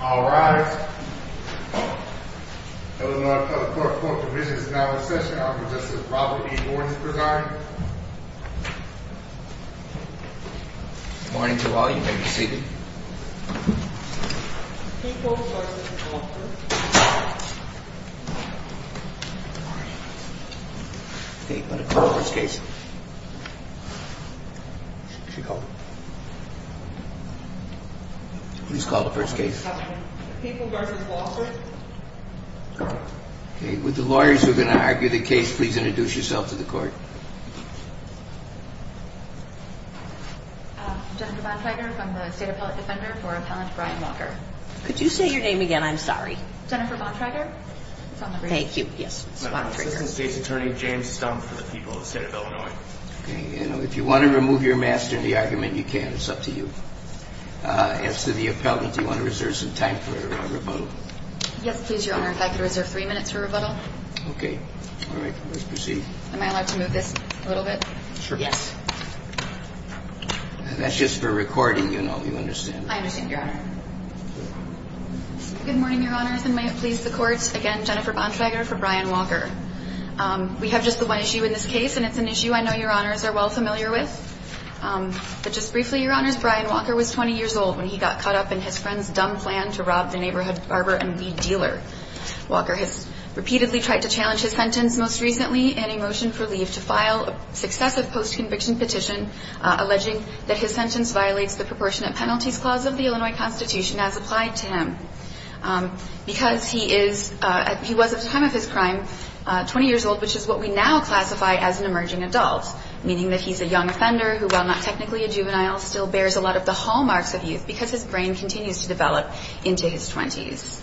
All rise. That was not a court court. The vision is now in session. I'm just probably going to resign. Morning to all. You may be seated. People. Okay, but the first case she called Please call the first case. Okay, with the lawyers who are going to argue the case, please introduce yourself to the court. Jennifer Bontrager from the State Appellate Defender for Appellant Brian Walker. Could you say your name again? I'm sorry. Jennifer Bontrager. Thank you. Yes. Assistant State's Attorney James Stumpf for the people of the state of Illinois. You can, it's up to you. As to the appellant, do you want to reserve some time for rebuttal? Yes, please, Your Honor. If I could reserve three minutes for rebuttal. Okay. All right, let's proceed. Am I allowed to move this a little bit? Sure. Yes. That's just for recording, you know, you understand. I understand, Your Honor. Good morning, Your Honors, and may it please the courts. Again, Jennifer Bontrager for Brian Walker. We have just the one issue in this case, and it's an issue I know Your Honors are well familiar with. But just briefly, Your Honors, Brian Walker was 20 years old when he got caught up in his friend's dumb plan to rob the neighborhood barber and weed dealer. Walker has repeatedly tried to challenge his sentence most recently in a motion for leave to file successive post-conviction petition alleging that his sentence violates the proportionate penalties clause of the Illinois Constitution as applied to him. Because he is, he was at the time of his crime 20 years old, which is what we now classify as an emerging adult, meaning that he's a young offender who, while not technically a juvenile, still bears a lot of the hallmarks of youth because his brain continues to develop into his 20s.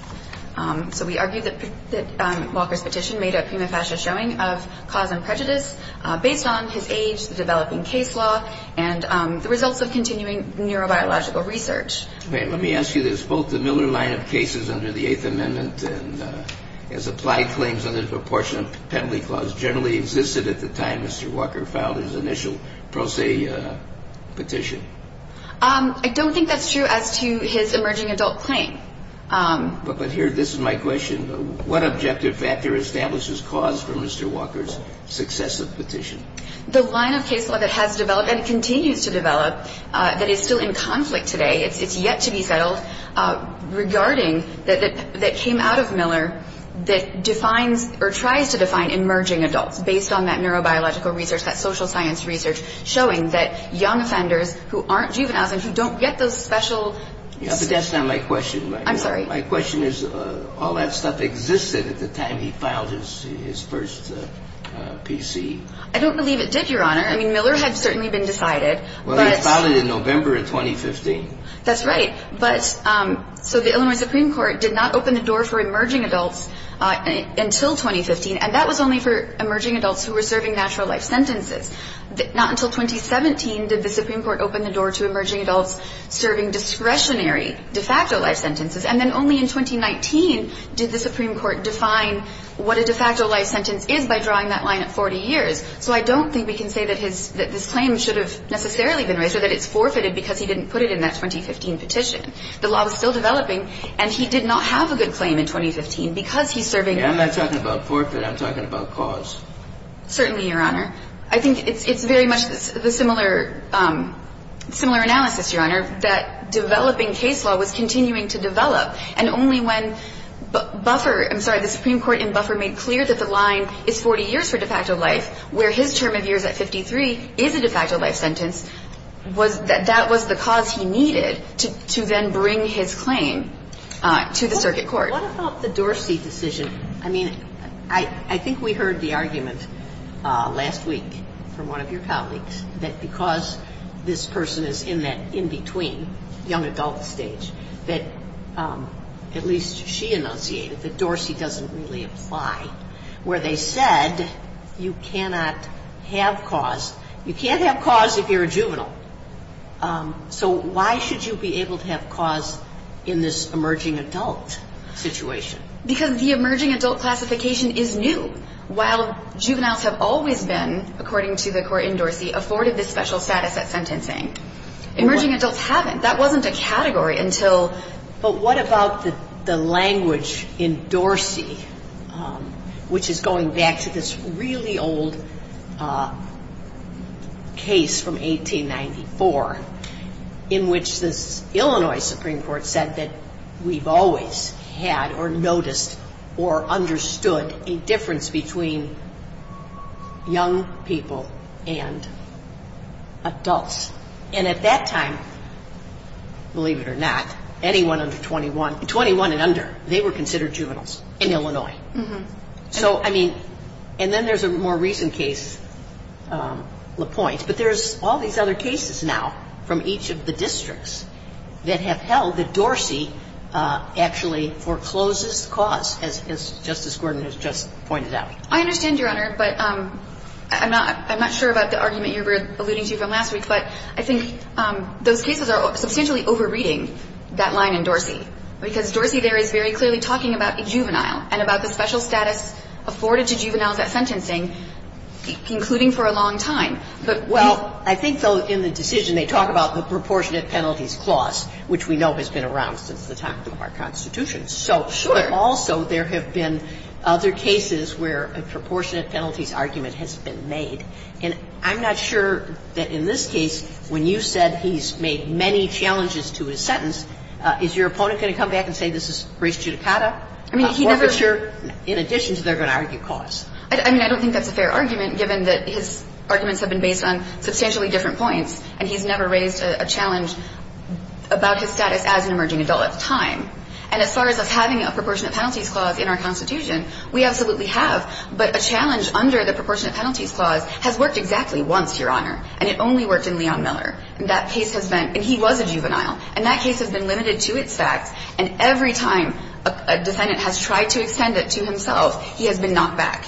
So we argue that Walker's petition made a prima facie showing of cause and prejudice based on his age, the developing case law, and the results of continuing neurobiological research. Let me ask you, there's both the Miller line of cases under the Eighth Amendment and as applied claims under the proportionate penalty clause generally existed at the time Mr. Walker filed his initial pro se petition. I don't think that's true as to his emerging adult claim. But here, this is my question. What objective factor establishes cause for Mr. Walker's successive petition? The line of case law that has developed and continues to develop, that is still in conflict today, it's yet to be settled, regarding that came out of Miller that defines or tries to define emerging adults based on that neurobiological research, that social science research, showing that young offenders who aren't juveniles and who don't get those special... But that's not my question. I'm sorry. My question is, all that stuff existed at the time he filed his first PC. I don't believe it did, Your Honor. I mean, Miller had certainly been decided. Well, he filed it in November of 2015. That's right. But so the Illinois Supreme Court did not open the door for emerging adults until 2015, and that was only for emerging adults who were serving natural life sentences. Not until 2017 did the Supreme Court open the door to emerging adults serving discretionary de facto life sentences. And then only in 2019 did the Supreme Court define what a de facto life sentence is by drawing that line at 40 years. So I don't think we can say that this claim should have necessarily been raised or that it's forfeited because he didn't put it in that 2015 petition. The law was still developing and he did not have a good claim in 2015 because he's serving... I'm not talking about forfeit. I'm talking about cause. Certainly, Your Honor. I think it's very much the similar analysis, Your Honor, that developing case law was continuing to develop. And only when the Supreme Court in Buffer made clear that the line is 40 years for de facto life, where his term of years at 53 is a de facto life sentence, was that that was the cause he needed to then bring his claim to the circuit court. What about the Dorsey decision? I mean, I think we heard the argument last week from one of your colleagues that because this person is in that in-between young adult stage, that at least she enunciated that Dorsey doesn't really apply, where they said you cannot have cause. You can't have cause if you're a juvenile. So why should you be able to have cause in this emerging adult situation? Because the emerging adult classification is new. While juveniles have always been, according to the court in Dorsey, afforded this special status at sentencing, emerging adults haven't. That wasn't a category until... But what about the language in Dorsey, which is going back to this really old case from 1894, in which this Illinois Supreme Court said that we've always had or noticed or understood a difference between young people and adults. And at that time, believe it or not, anyone under 21, 21 and under, they were considered juveniles in Illinois. So, I mean, and then there's a more recent case, LaPointe, but there's all these other cases now from each of the districts that have held that Dorsey actually forecloses cause, as Justice Gordon has just pointed out. I understand, Your Honor, but I'm not sure about the argument you were alluding to from last week, but I think those cases are substantially overreading that line in Dorsey, because Dorsey there is very clearly talking about a juvenile and about the special status afforded to juveniles at sentencing, including for a long time. But... Well, I think, though, in the decision, they talk about the proportionate penalties clause, which we know has been around since the time of our Constitution. So... Sure. But also there have been other cases where a proportionate penalties argument has been made. And I'm not sure that in this case, when you said he's made many challenges to his sentence, is your opponent going to come back and say this is res judicata, a forfeiture, in addition to their going to argue cause? I mean, I don't think that's a fair argument, given that his arguments have been based on substantially different points, and he's never raised a challenge about his status as an emerging adult at the time. And as far as us having a proportionate penalties clause in our Constitution, we absolutely have. But a challenge under the proportionate penalties clause has worked exactly once, Your Honor, and it only worked in Leon Miller. And that case has been, and he was a juvenile, and that case has been limited to its facts. And every time a defendant has tried to extend it to himself, he has been knocked back.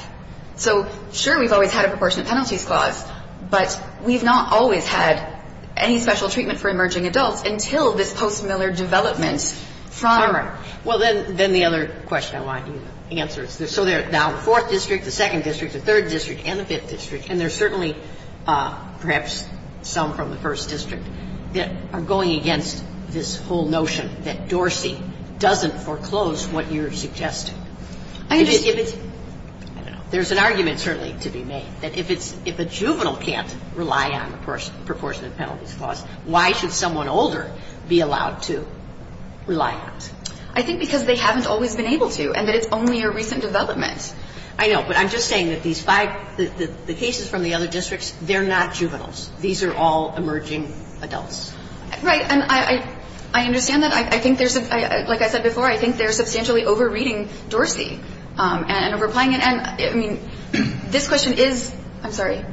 So, sure, we've always had a proportionate penalties clause, but we've not always had any special treatment for emerging adults until this post-Miller development from... So they're now in the fourth district, the second district, the third district, and the fifth district, and there's certainly, perhaps, some from the first district that are going against this whole notion that Dorsey doesn't foreclose what you're suggesting. I understand. There's an argument, certainly, to be made that if it's, if a juvenile can't rely on a proportionate penalties clause, why should someone older be allowed to rely on it? I think because they haven't always been able to, and that it's only a recent development. I know. But I'm just saying that these five, the cases from the other districts, they're not juveniles. These are all emerging adults. Right. And I understand that. I think there's, like I said before, I think they're substantially over-reading Dorsey and over-applying it. And, I mean, this question is, I'm sorry.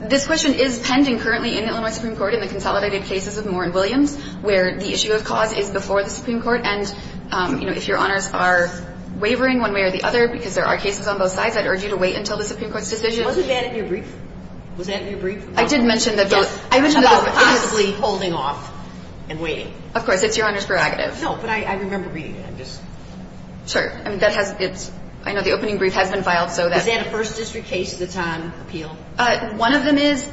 This question is pending currently in Illinois Supreme Court in the consolidated cases of Moore and Williams, where the issue of cause is before the Supreme Court. And, you know, if Your Honors are wavering one way or the other, because there are cases on both sides, I'd urge you to wait until the Supreme Court's decision. Wasn't that in your brief? Was that in your brief? I did mention that those. I mentioned that those. About possibly holding off and waiting. Of course. It's Your Honor's prerogative. No, but I remember reading it. I'm just. Sure. I mean, that has, it's, I know the opening brief has been filed, so that. Is that a first district case that's on appeal? One of them is.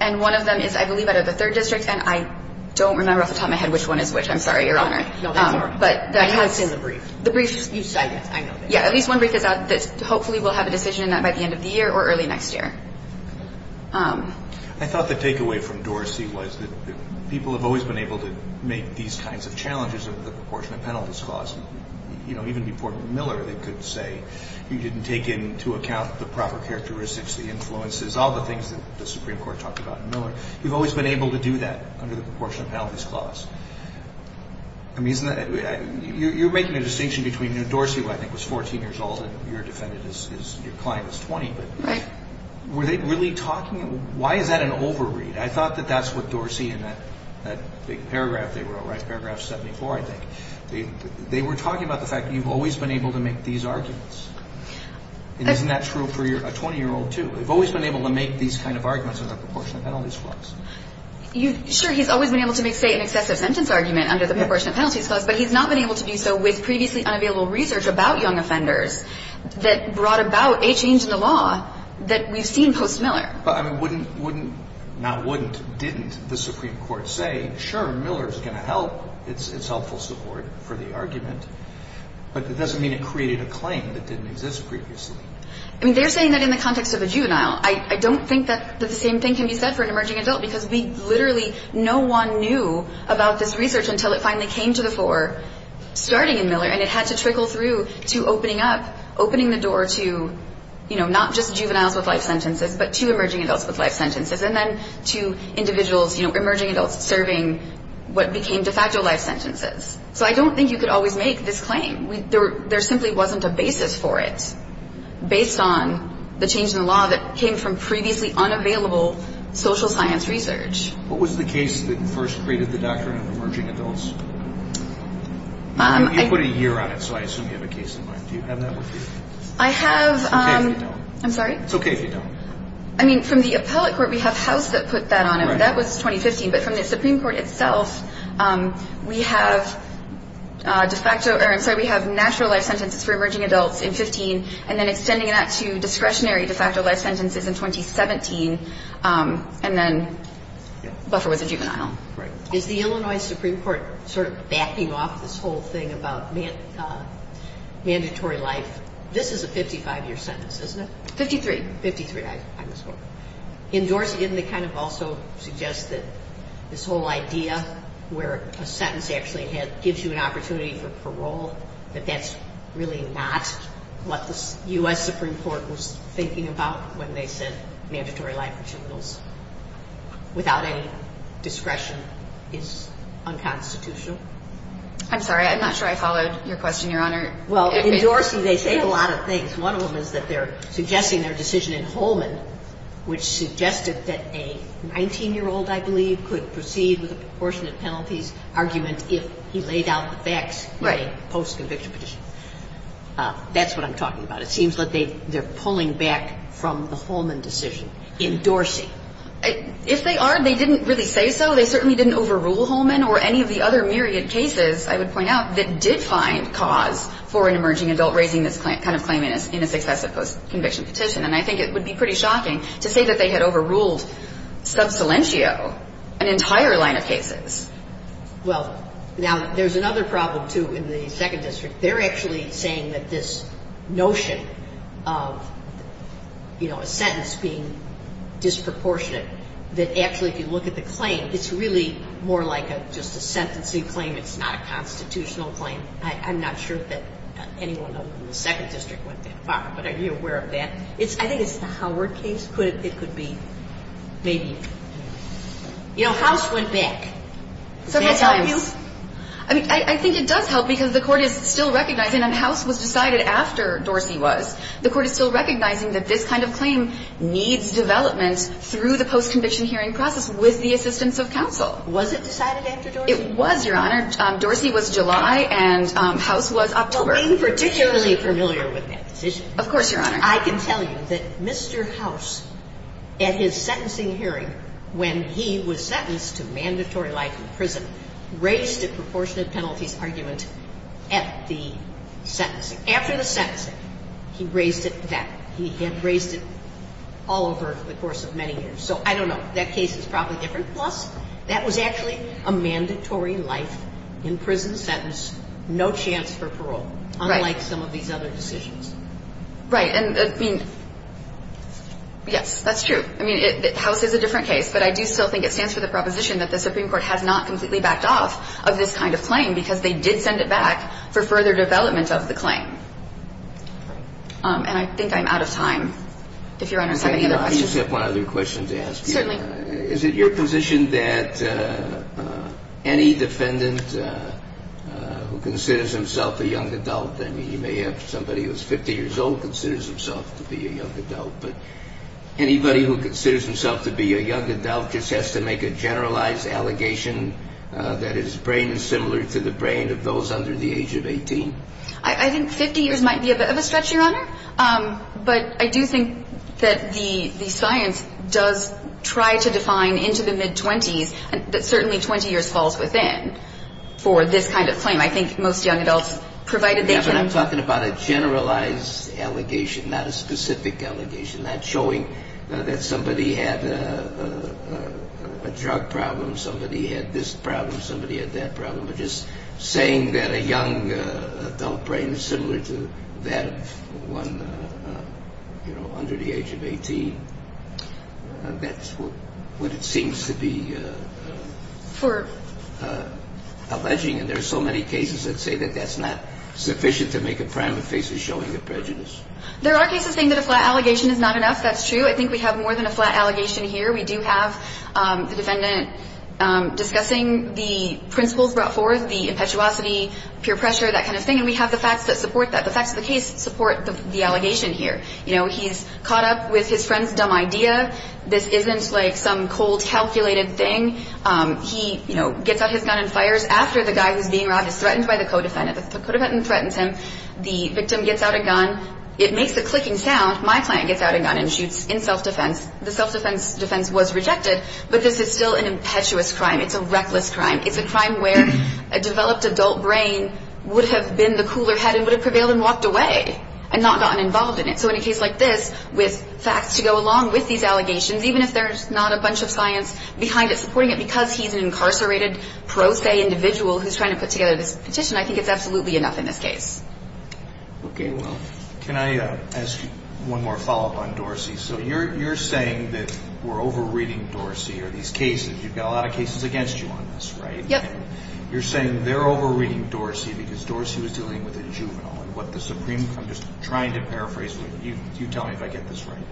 And one of them is, I believe, out of the third district. And I don't remember off the top of my head which one is which. I'm sorry, Your Honor. But that has. It's in the brief. The brief. You said it. I know. Yeah, at least one brief is out that hopefully we'll have a decision on that by the end of the year or early next year. I thought the takeaway from Dorsey was that people have always been able to make these kinds of challenges of the proportion of penalties caused. You know, even before Miller, they could say, you didn't take into account the influences, all the things that the Supreme Court talked about in Miller. You've always been able to do that under the proportion of penalties caused. I mean, isn't that, you're making a distinction between, you know, Dorsey, who I think was 14 years old and your defendant is, your client is 20. Right. Were they really talking, why is that an overread? I thought that that's what Dorsey in that big paragraph, they were, right, paragraph 74, I think, they were talking about the fact that you've always been able to make these arguments. And isn't that true for a 20-year-old too? They've always been able to make these kinds of arguments under the proportion of penalties caused. You, sure, he's always been able to make, say, an excessive sentence argument under the proportion of penalties caused, but he's not been able to do so with previously unavailable research about young offenders that brought about a change in the law that we've seen post Miller. But I mean, wouldn't, wouldn't, not wouldn't, didn't the Supreme Court say, sure, Miller's going to help, it's helpful support for the argument, but it doesn't mean it created a claim that didn't exist previously. I mean, they're saying that in the context of a juvenile, I don't think that the same thing can be said for an emerging adult, because we literally, no one knew about this research until it finally came to the fore, starting in Miller, and it had to trickle through to opening up, opening the door to, you know, not just juveniles with life sentences, but to emerging adults with life sentences, and then to individuals, you know, emerging adults serving what became de facto life sentences. So I don't think you could always make this claim. We, there, there simply wasn't a basis for it. Based on the change in the law that came from previously unavailable social science research. What was the case that first created the doctrine of emerging adults? You put a year on it, so I assume you have a case in mind. Do you have that with you? I have, I'm sorry. It's okay if you don't. I mean, from the appellate court, we have House that put that on it. That was 2015. But from the Supreme Court itself, we have de facto, or I'm sorry, we have natural life sentences for emerging adults in 15, and then extending that to discretionary de facto life sentences in 2017. And then Buffer was a juvenile. Right. Is the Illinois Supreme Court sort of backing off this whole thing about mandatory life? This is a 55-year sentence, isn't it? 53. 53, I misspoke. In Dorsey, didn't they kind of also suggest that this whole idea where a juvenile is a juvenile, and that's really not what the U.S. Supreme Court was thinking about when they said mandatory life for juveniles without any discretion is unconstitutional? I'm sorry. I'm not sure I followed your question, Your Honor. Well, in Dorsey, they say a lot of things. One of them is that they're suggesting their decision in Holman, which suggested that a 19-year-old, I believe, could proceed with a proportionate penalties argument if he laid out the facts in a post-conviction petition. That's what I'm talking about. It seems like they're pulling back from the Holman decision in Dorsey. If they are, they didn't really say so. They certainly didn't overrule Holman or any of the other myriad cases, I would point out, that did find cause for an emerging adult raising this kind of claim in a successive post-conviction petition. And I think it would be pretty shocking to say that they had overruled Subsilentio, an entire line of cases. Well, now there's another problem, too, in the Second District. They're actually saying that this notion of, you know, a sentence being disproportionate, that actually if you look at the claim, it's really more like just a sentencing claim. It's not a constitutional claim. I'm not sure that anyone in the Second District went that far, but are you aware of that? I think it's the Howard case. It could be, maybe. You know, House went back. Does that help you? I mean, I think it does help because the Court is still recognizing, and House was decided after Dorsey was, the Court is still recognizing that this kind of claim needs development through the post-conviction hearing process with the assistance of counsel. Was it decided after Dorsey? It was, Your Honor. Dorsey was July and House was October. Well, I'm particularly familiar with that decision. Of course, Your Honor. I can tell you that Mr. House, at his sentencing hearing, when he was sentenced to mandatory life in prison, raised a proportionate penalties argument at the sentencing. After the sentencing, he raised it back. He had raised it all over the course of many years. So I don't know. That case is probably different. Plus, that was actually a mandatory life in prison sentence, no chance for parole, unlike some of these other decisions. Right. And, I mean, yes, that's true. I mean, House is a different case, but I do still think it stands for the proposition that the Supreme Court has not completely backed off of this kind of claim because they did send it back for further development of the claim. And I think I'm out of time, if Your Honor has any other questions. I just have one other question to ask you. Certainly. Is it your position that any defendant who considers himself a young adult, I mean, you may have somebody who's 50 years old considers himself to be a young adult, but anybody who considers himself to be a young adult just has to make a generalized allegation that his brain is similar to the brain of those under the age of 18? I think 50 years might be a bit of a stretch, Your Honor. But I do think that the science does try to define into the mid-20s that certainly 20 years falls within for this kind of claim. I think most young adults, provided they can Yeah, but I'm talking about a generalized allegation, not a specific allegation, not showing that somebody had a drug problem, somebody had this problem, somebody had that problem, but just saying that a young adult brain is similar to that of one, you know, under the age of 18, that's what it seems to be for alleging. And there's so many cases that say that that's not sufficient to make a prime of faces showing a prejudice. There are cases saying that a flat allegation is not enough. That's true. I think we have more than a flat allegation here. We do have the defendant discussing the principles brought forth, the impetuosity, peer pressure, that kind of thing. And we have the facts that support that. The facts of the case support the allegation here. You know, he's caught up with his friend's dumb idea. This isn't like some cold calculated thing. He, you know, gets out his gun and fires after the guy who's being robbed is threatened by the co-defendant. The co-defendant threatens him. The victim gets out a gun. It makes the clicking sound. My client gets out a gun and shoots in self-defense. The self-defense was rejected, but this is still an impetuous crime. It's a reckless crime. It's a crime where a developed adult brain would have been the cooler head and would have prevailed and walked away and not gotten involved in it. So in a case like this, with facts to go along with these allegations, even if there's not a bunch of science behind it supporting it because he's an incarcerated pro se individual who's trying to put together this petition, I think it's absolutely enough in this case. Okay. Well, can I ask you one more follow-up on Dorsey? So you're saying that we're over-reading Dorsey or these cases. You've got a lot of cases against you on this, right? Yep. You're saying they're over-reading Dorsey because Dorsey was dealing with a juvenile and what the Supreme Court, I'm just trying to paraphrase what you tell me if I get this right.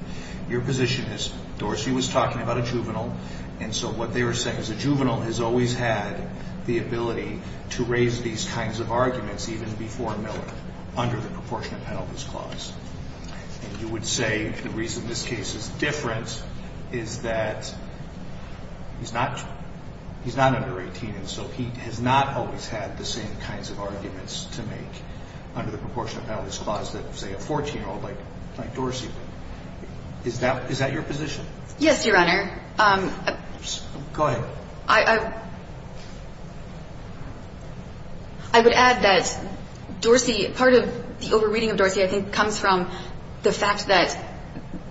Your position is Dorsey was talking about a juvenile. And so what they were saying is a juvenile has always had the ability to raise these kinds of arguments, even before Miller under the proportionate penalties clause. And you would say the reason this case is different is that he's not, he's not under 18. And so he has not always had the same kinds of arguments to make under the proportionate penalties clause that say a 14 year old like Dorsey would. Is that, is that your position? Yes, Your Honor. Go ahead. I would add that Dorsey, part of the over-reading of Dorsey, I think comes from the fact that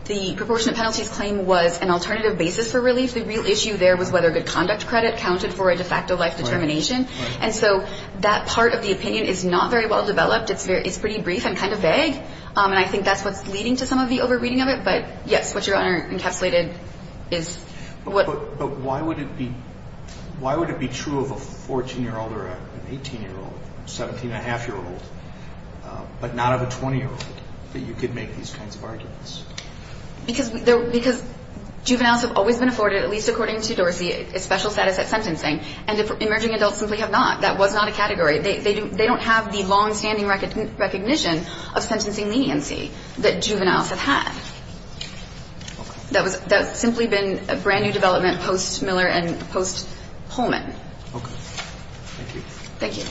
the proportionate penalties claim was an alternative basis for relief. The real issue there was whether good conduct credit counted for a de facto life determination. And so that part of the opinion is not very well developed. It's very, it's pretty brief and kind of vague. And I think that's what's leading to some of the over-reading of it. But yes, what Your Honor encapsulated is what... But why would it be, why would it be true of a 14 year old or an 18 year old, 17 and a half year old, but not of a 20 year old, that you could make these kinds of arguments? Because, because juveniles have always been afforded, at least according to Dorsey, a special status at sentencing. And emerging adults simply have not. That was not a category. They don't have the longstanding recognition of sentencing leniency that juveniles have had. That was, that's simply been a brand new development post Miller and post Pullman. Thank you. Good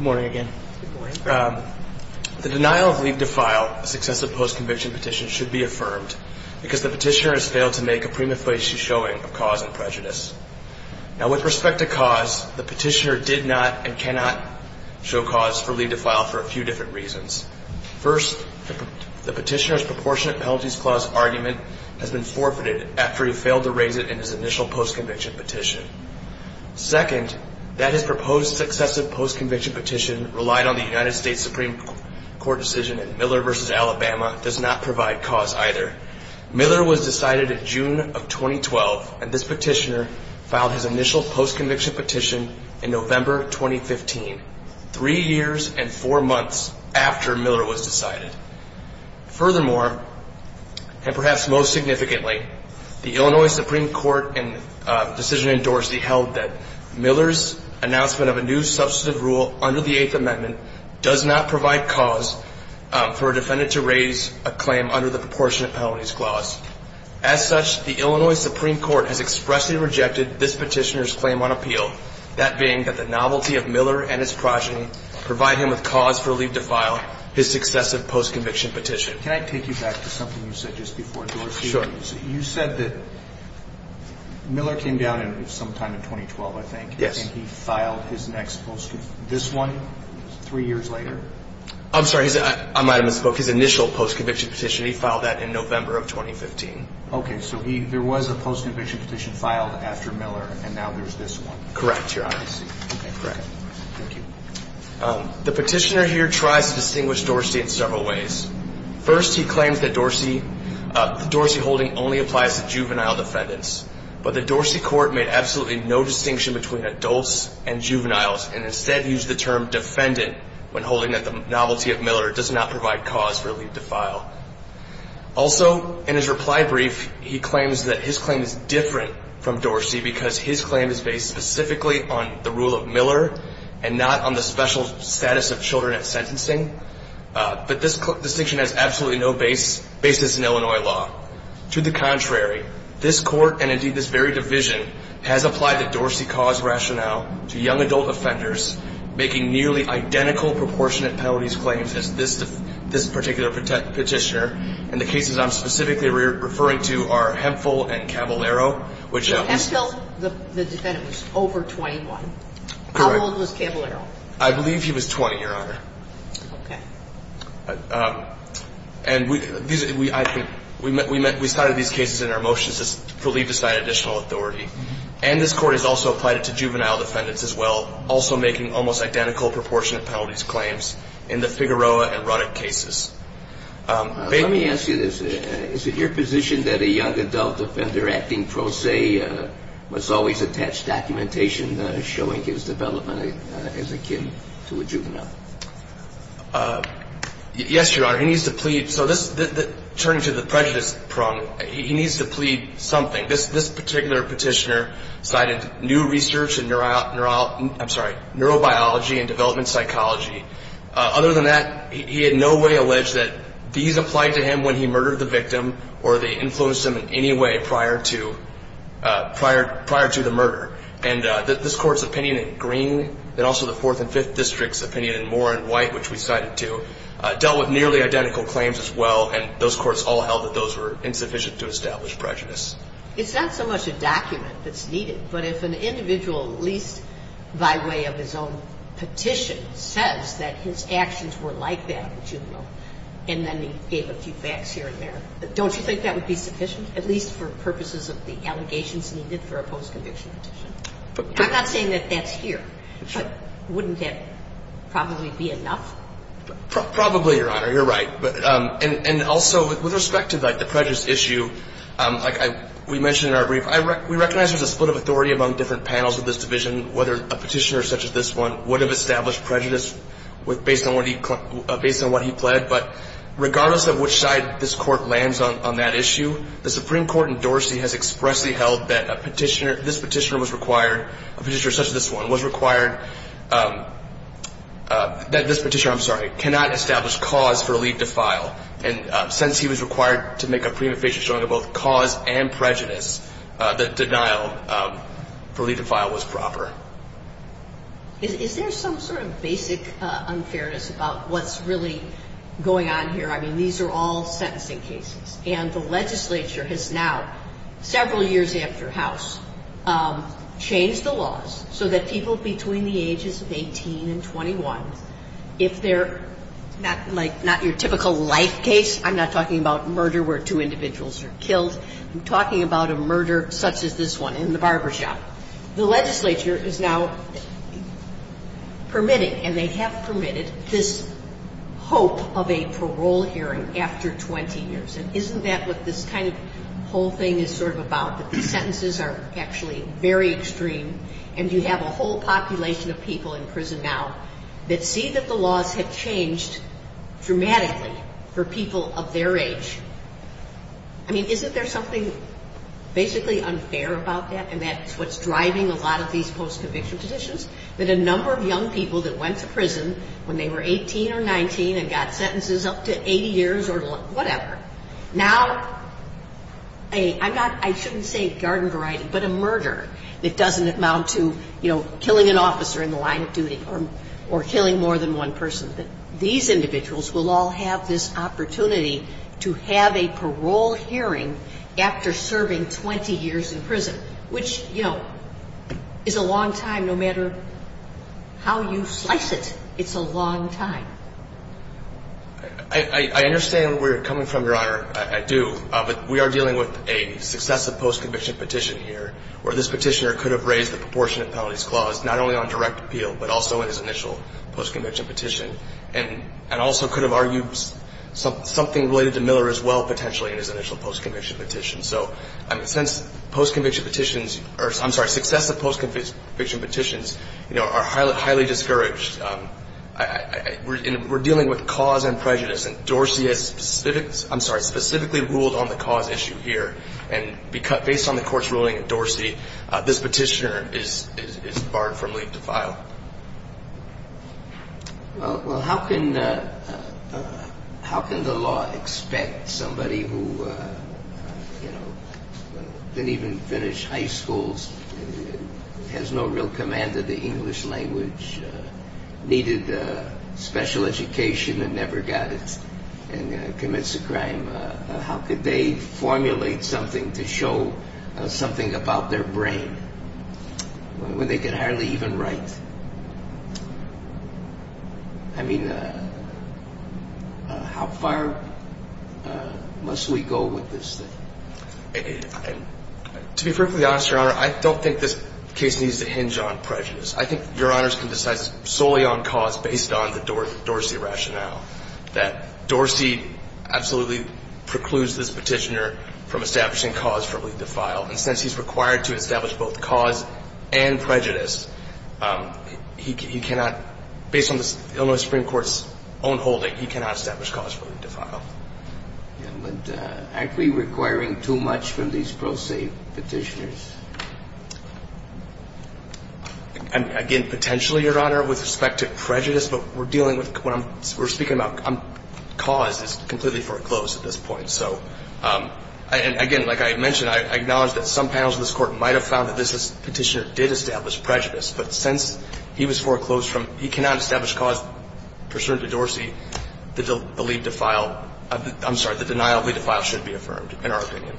morning again. The denial of leave to file a successive post conviction petition should be affirmed because the petitioner has failed to make a prima facie showing of cause and prejudice. Now with respect to cause, the petitioner did not and cannot show cause for leave to file for a few different reasons. First, the petitioner's proportionate penalties clause argument has been forfeited after he failed to raise it in his initial post conviction petition. Second, that his proposed successive post conviction petition relied on the United States Supreme Court decision in Miller versus Alabama does not provide cause either. Miller was decided in June of 2012. And this petitioner filed his initial post conviction petition in November 2015, three years and four months after Miller was decided. Furthermore, and perhaps most significantly, the Illinois Supreme Court and decision in Dorsey held that Miller's announcement of a new substantive rule under the eighth amendment does not provide cause for a defendant to violate the proportionate penalties clause. As such, the Illinois Supreme Court has expressly rejected this petitioner's claim on appeal. That being that the novelty of Miller and his progeny provide him with cause for leave to file his successive post conviction petition. Can I take you back to something you said just before Dorsey? Sure. You said that Miller came down in some time in 2012, I think. Yes. And he filed his next post, this one, three years later. I'm sorry. I might have misspoke. His initial post conviction petition. He filed that in November of 2015. Okay. So he, there was a post conviction petition filed after Miller and now there's this one. Correct. Your honesty. Okay. Correct. Thank you. The petitioner here tries to distinguish Dorsey in several ways. First, he claims that Dorsey, Dorsey holding only applies to juvenile defendants, but the Dorsey court made absolutely no distinction between adults and juveniles and instead used the term defendant when holding that the novelty of Miller does not provide cause for leave to file. Also in his reply brief, he claims that his claim is different from Dorsey because his claim is based specifically on the rule of Miller and not on the special status of children at sentencing. Uh, but this distinction has absolutely no base basis in Illinois law to the contrary, this court and indeed this very division has applied the Dorsey cause rationale to young adult offenders, making nearly identical proportionate penalties claims as this, this particular petitioner. And the cases I'm specifically referring to are Hemphill and Caballero, which the defendant was over 21. How old was Caballero? I believe he was 20, your honor. Okay. Uh, and we, these, we, I think we met, we met, we started these cases in our motions for leave to sign additional authority. And this court has also applied it to juvenile defendants as well. Also making almost identical proportionate penalties claims in the Figueroa erotic cases. Um, let me ask you this. Is it your position that a young adult offender acting pro se, uh, was always attached documentation, uh, showing his development as a kid to a juvenile? Uh, yes, your honor. He needs to plead. So this turning to the prejudice problem, he needs to plead something. This, this particular petitioner cited new research and neuro, neuro, I'm sorry, neurobiology and development psychology. Uh, other than that, he had no way alleged that these applied to him when he murdered the victim or they influenced him in any way prior to, uh, prior, prior to the murder. And, uh, this court's opinion in green and also the fourth and fifth district's opinion in more in white, which we cited to, uh, dealt with nearly identical claims as well. And those courts all held that those were insufficient to establish prejudice. It's not so much a document that's needed, but if an individual, at least by way of his own petition says that his actions were like that in juvenile, and then he gave a few facts here and there, don't you think that would be sufficient, at least for purposes of the allegations needed for a post conviction petition? I'm not saying that that's here, but wouldn't that probably be enough? Probably your honor. You're right. But, um, and, and also with respect to like the prejudice issue, um, like I, we mentioned in our brief, I rec, we recognize there's a split of authority among different panels of this division, whether a petitioner such as this one would have established prejudice with, based on what he, uh, based on what he pled. But regardless of which side this court lands on, on that issue, the Supreme Court in Dorsey has expressly held that a petitioner, this petitioner was required, a petitioner such as this one was required, um, uh, that this petitioner, I'm And, uh, since he was required to make a prima facie showing of both cause and prejudice, uh, the denial, um, for lead to file was proper. Is there some sort of basic, uh, unfairness about what's really going on here? I mean, these are all sentencing cases and the legislature has now several years after house, um, changed the laws so that people between the ages of 18 and 21, if they're not like, not your typical life case, I'm not talking about murder where two individuals are killed. I'm talking about a murder such as this one in the barbershop. The legislature is now permitting, and they have permitted this hope of a parole hearing after 20 years. And isn't that what this kind of whole thing is sort of about? That the sentences are actually very extreme and you have a whole population of people in prison now that see that the laws have changed dramatically for people of their age. I mean, isn't there something basically unfair about that? And that's what's driving a lot of these post conviction petitions, that a number of young people that went to prison when they were 18 or 19 and got sentences up to 80 years or whatever. Now, I'm not, I shouldn't say garden variety, but a murder that doesn't amount to, you know, killing an officer in the line of duty or killing more than one person. That these individuals will all have this opportunity to have a parole hearing after serving 20 years in prison, which, you know, is a long time no matter how you slice it. It's a long time. I understand where you're coming from, Your Honor. I do, but we are dealing with a successive post conviction petition here where this petitioner could have raised the proportionate penalties clause, not only on direct appeal, but also in his initial post conviction petition, and also could have argued something related to Miller as well, potentially, in his initial post conviction petition. So, I mean, since post conviction petitions, or I'm sorry, successive post conviction petitions, you know, are highly discouraged, we're dealing with cause and prejudice, and Dorsey has specific, I'm sorry, specifically ruled on the cause issue here, and based on the court's ruling at Dorsey, this petitioner is barred from leaving the file. Well, how can the law expect somebody who, you know, didn't even finish high schools, has no real command of the English language, needed a special education and never got it, and commits a crime? How could they formulate something to show something about their brain when they can hardly even write? I mean, how far must we go with this thing? To be perfectly honest, Your Honor, I don't think this case needs to hinge on prejudice. I think Your Honors can decide solely on cause based on the Dorsey rationale, that Dorsey absolutely precludes this petitioner from establishing cause for leaving the file. And since he's required to establish both cause and prejudice, he cannot, based on the Illinois Supreme Court's own holding, he cannot establish cause for leaving the file. Yeah, but aren't we requiring too much from these pro se petitioners? Again, potentially, Your Honor, with respect to prejudice, but we're dealing with, we're speaking about cause is completely foreclosed at this point. So, and again, like I had mentioned, I acknowledge that some panels of this court might have found that this petitioner did establish prejudice. But since he was foreclosed from, he cannot establish cause pursuant to Dorsey that the leave to file, I'm sorry, the denial of leave to file should be affirmed, in our opinion.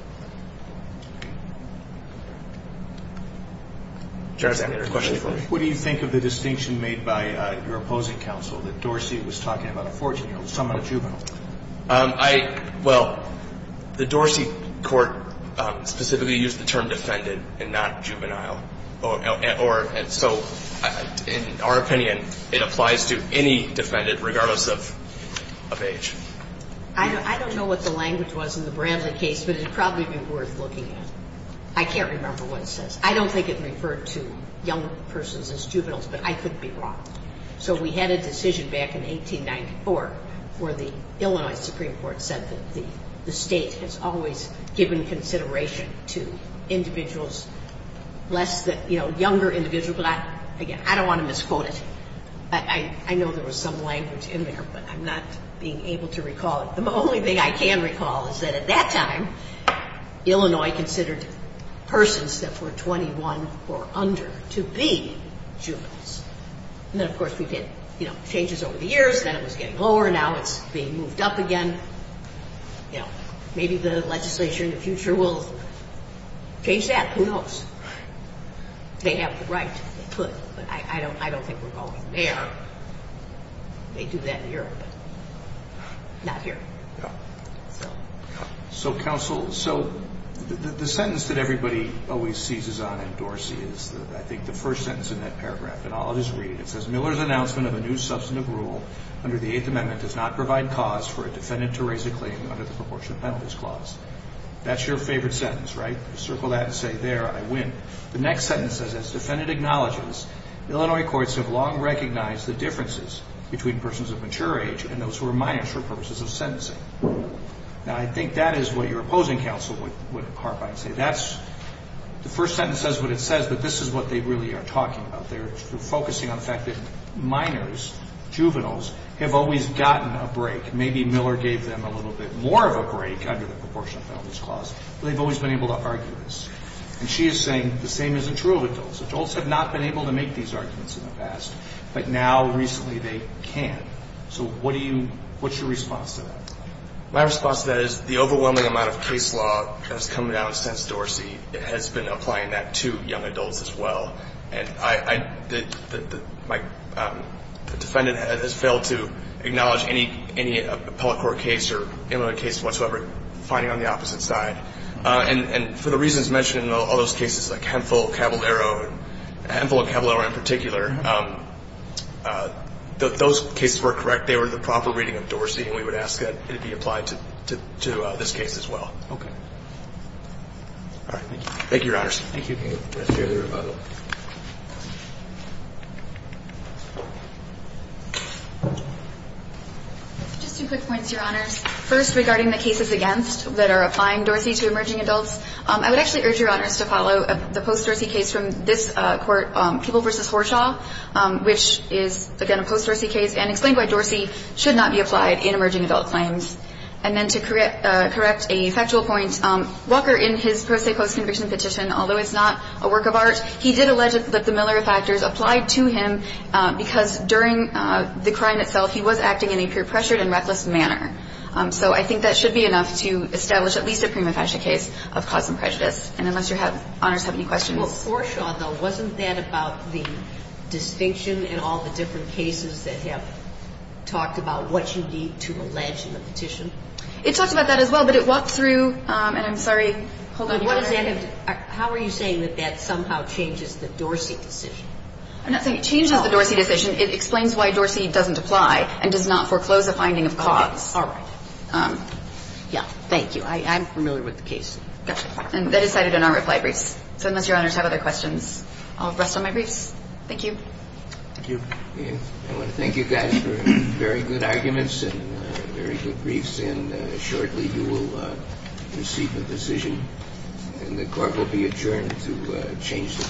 Judge, I have another question for you. What do you think of the distinction made by your opposing counsel that Dorsey was talking about a 14-year-old, someone a juvenile? I, well, the Dorsey court specifically used the term defended and not juvenile. Or, and so, in our opinion, it applies to any defendant, regardless of age. I don't know what the language was in the Bramley case, but it'd probably be worth looking at. I can't remember what it says. I don't think it referred to young persons as juveniles, but I could be wrong. So we had a decision back in 1894, where the Illinois Supreme Court said that the state has always given consideration to individuals less than, you know, younger individuals. But I, again, I don't want to misquote it. I know there was some language in there, but I'm not being able to recall it. The only thing I can recall is that at that time, Illinois considered persons that were 21 or under to be juveniles. And then, of course, we did, you know, changes over the years. Then it was getting lower. Now it's being moved up again. You know, maybe the legislation in the future will change that. Who knows? They have the right, they could, but I don't, I don't think we're going there. They do that in Europe, but not here. Yeah. So counsel, so the sentence that everybody always seizes on in Dorsey is, I think, the first sentence in that paragraph. And I'll just read it. It says, Miller's announcement of a new substantive rule under the Eighth Amendment does not provide cause for a defendant to raise a claim under the proportionate penalties clause. That's your favorite sentence, right? Circle that and say there, I win. The next sentence says, as defendant acknowledges, Illinois courts have long recognized the differences between persons of mature age and those who are mature persons of sentencing. Now, I think that is what your opposing counsel would harp on and say. That's the first sentence says what it says, but this is what they really are talking about. They're focusing on the fact that minors, juveniles, have always gotten a break. Maybe Miller gave them a little bit more of a break under the proportionate penalties clause, but they've always been able to argue this. And she is saying the same isn't true of adults. Adults have not been able to make these arguments in the past, but now recently they can. So what do you, what's your response to that? My response to that is the overwhelming amount of case law has come down since Dorsey. It has been applying that to young adults as well. And I, the defendant has failed to acknowledge any, any appellate court case or case whatsoever, finding on the opposite side. And, and for the reasons mentioned in all those cases, like Hemphill, Caballero, Hemphill and Caballero in particular, those cases were correct. They were the proper reading of Dorsey. And we would ask that it be applied to, to, to this case as well. Okay. All right. Thank you, Your Honors. Just two quick points, Your Honors. First, regarding the cases against that are applying Dorsey to emerging adults. I would actually urge Your Honors to follow the post-Dorsey case from this court, People v. Horshaw, which is, again, a post-Dorsey case and explained why Dorsey should not be applied in emerging adult claims. And then to correct, correct a factual point, Walker in his pro se post-conviction petition, although it's not a work of art, he did allege that the Miller factors applied to him because during the crime itself, he was acting in a peer pressured and reckless manner. So I think that should be enough to establish at least a prima facie case of cause and prejudice. And unless Your Honors have any questions. Well, Horshaw, though, wasn't that about the distinction and all the different cases that have talked about what you need to allege in the petition? It talks about that as well, but it walked through, and I'm sorry, hold on. What does that have to, how are you saying that that somehow changes the Dorsey decision? I'm not saying it changes the Dorsey decision. It explains why Dorsey doesn't apply and does not foreclose a finding of cause. All right. Yeah. Thank you. I, I'm familiar with the case. Gotcha. And that is cited in our reply briefs. So unless Your Honors have other questions, I'll rest on my briefs. Thank you. Thank you. I want to thank you guys for very good arguments and very good briefs. And shortly you will receive a decision and the court will be adjourned to change the.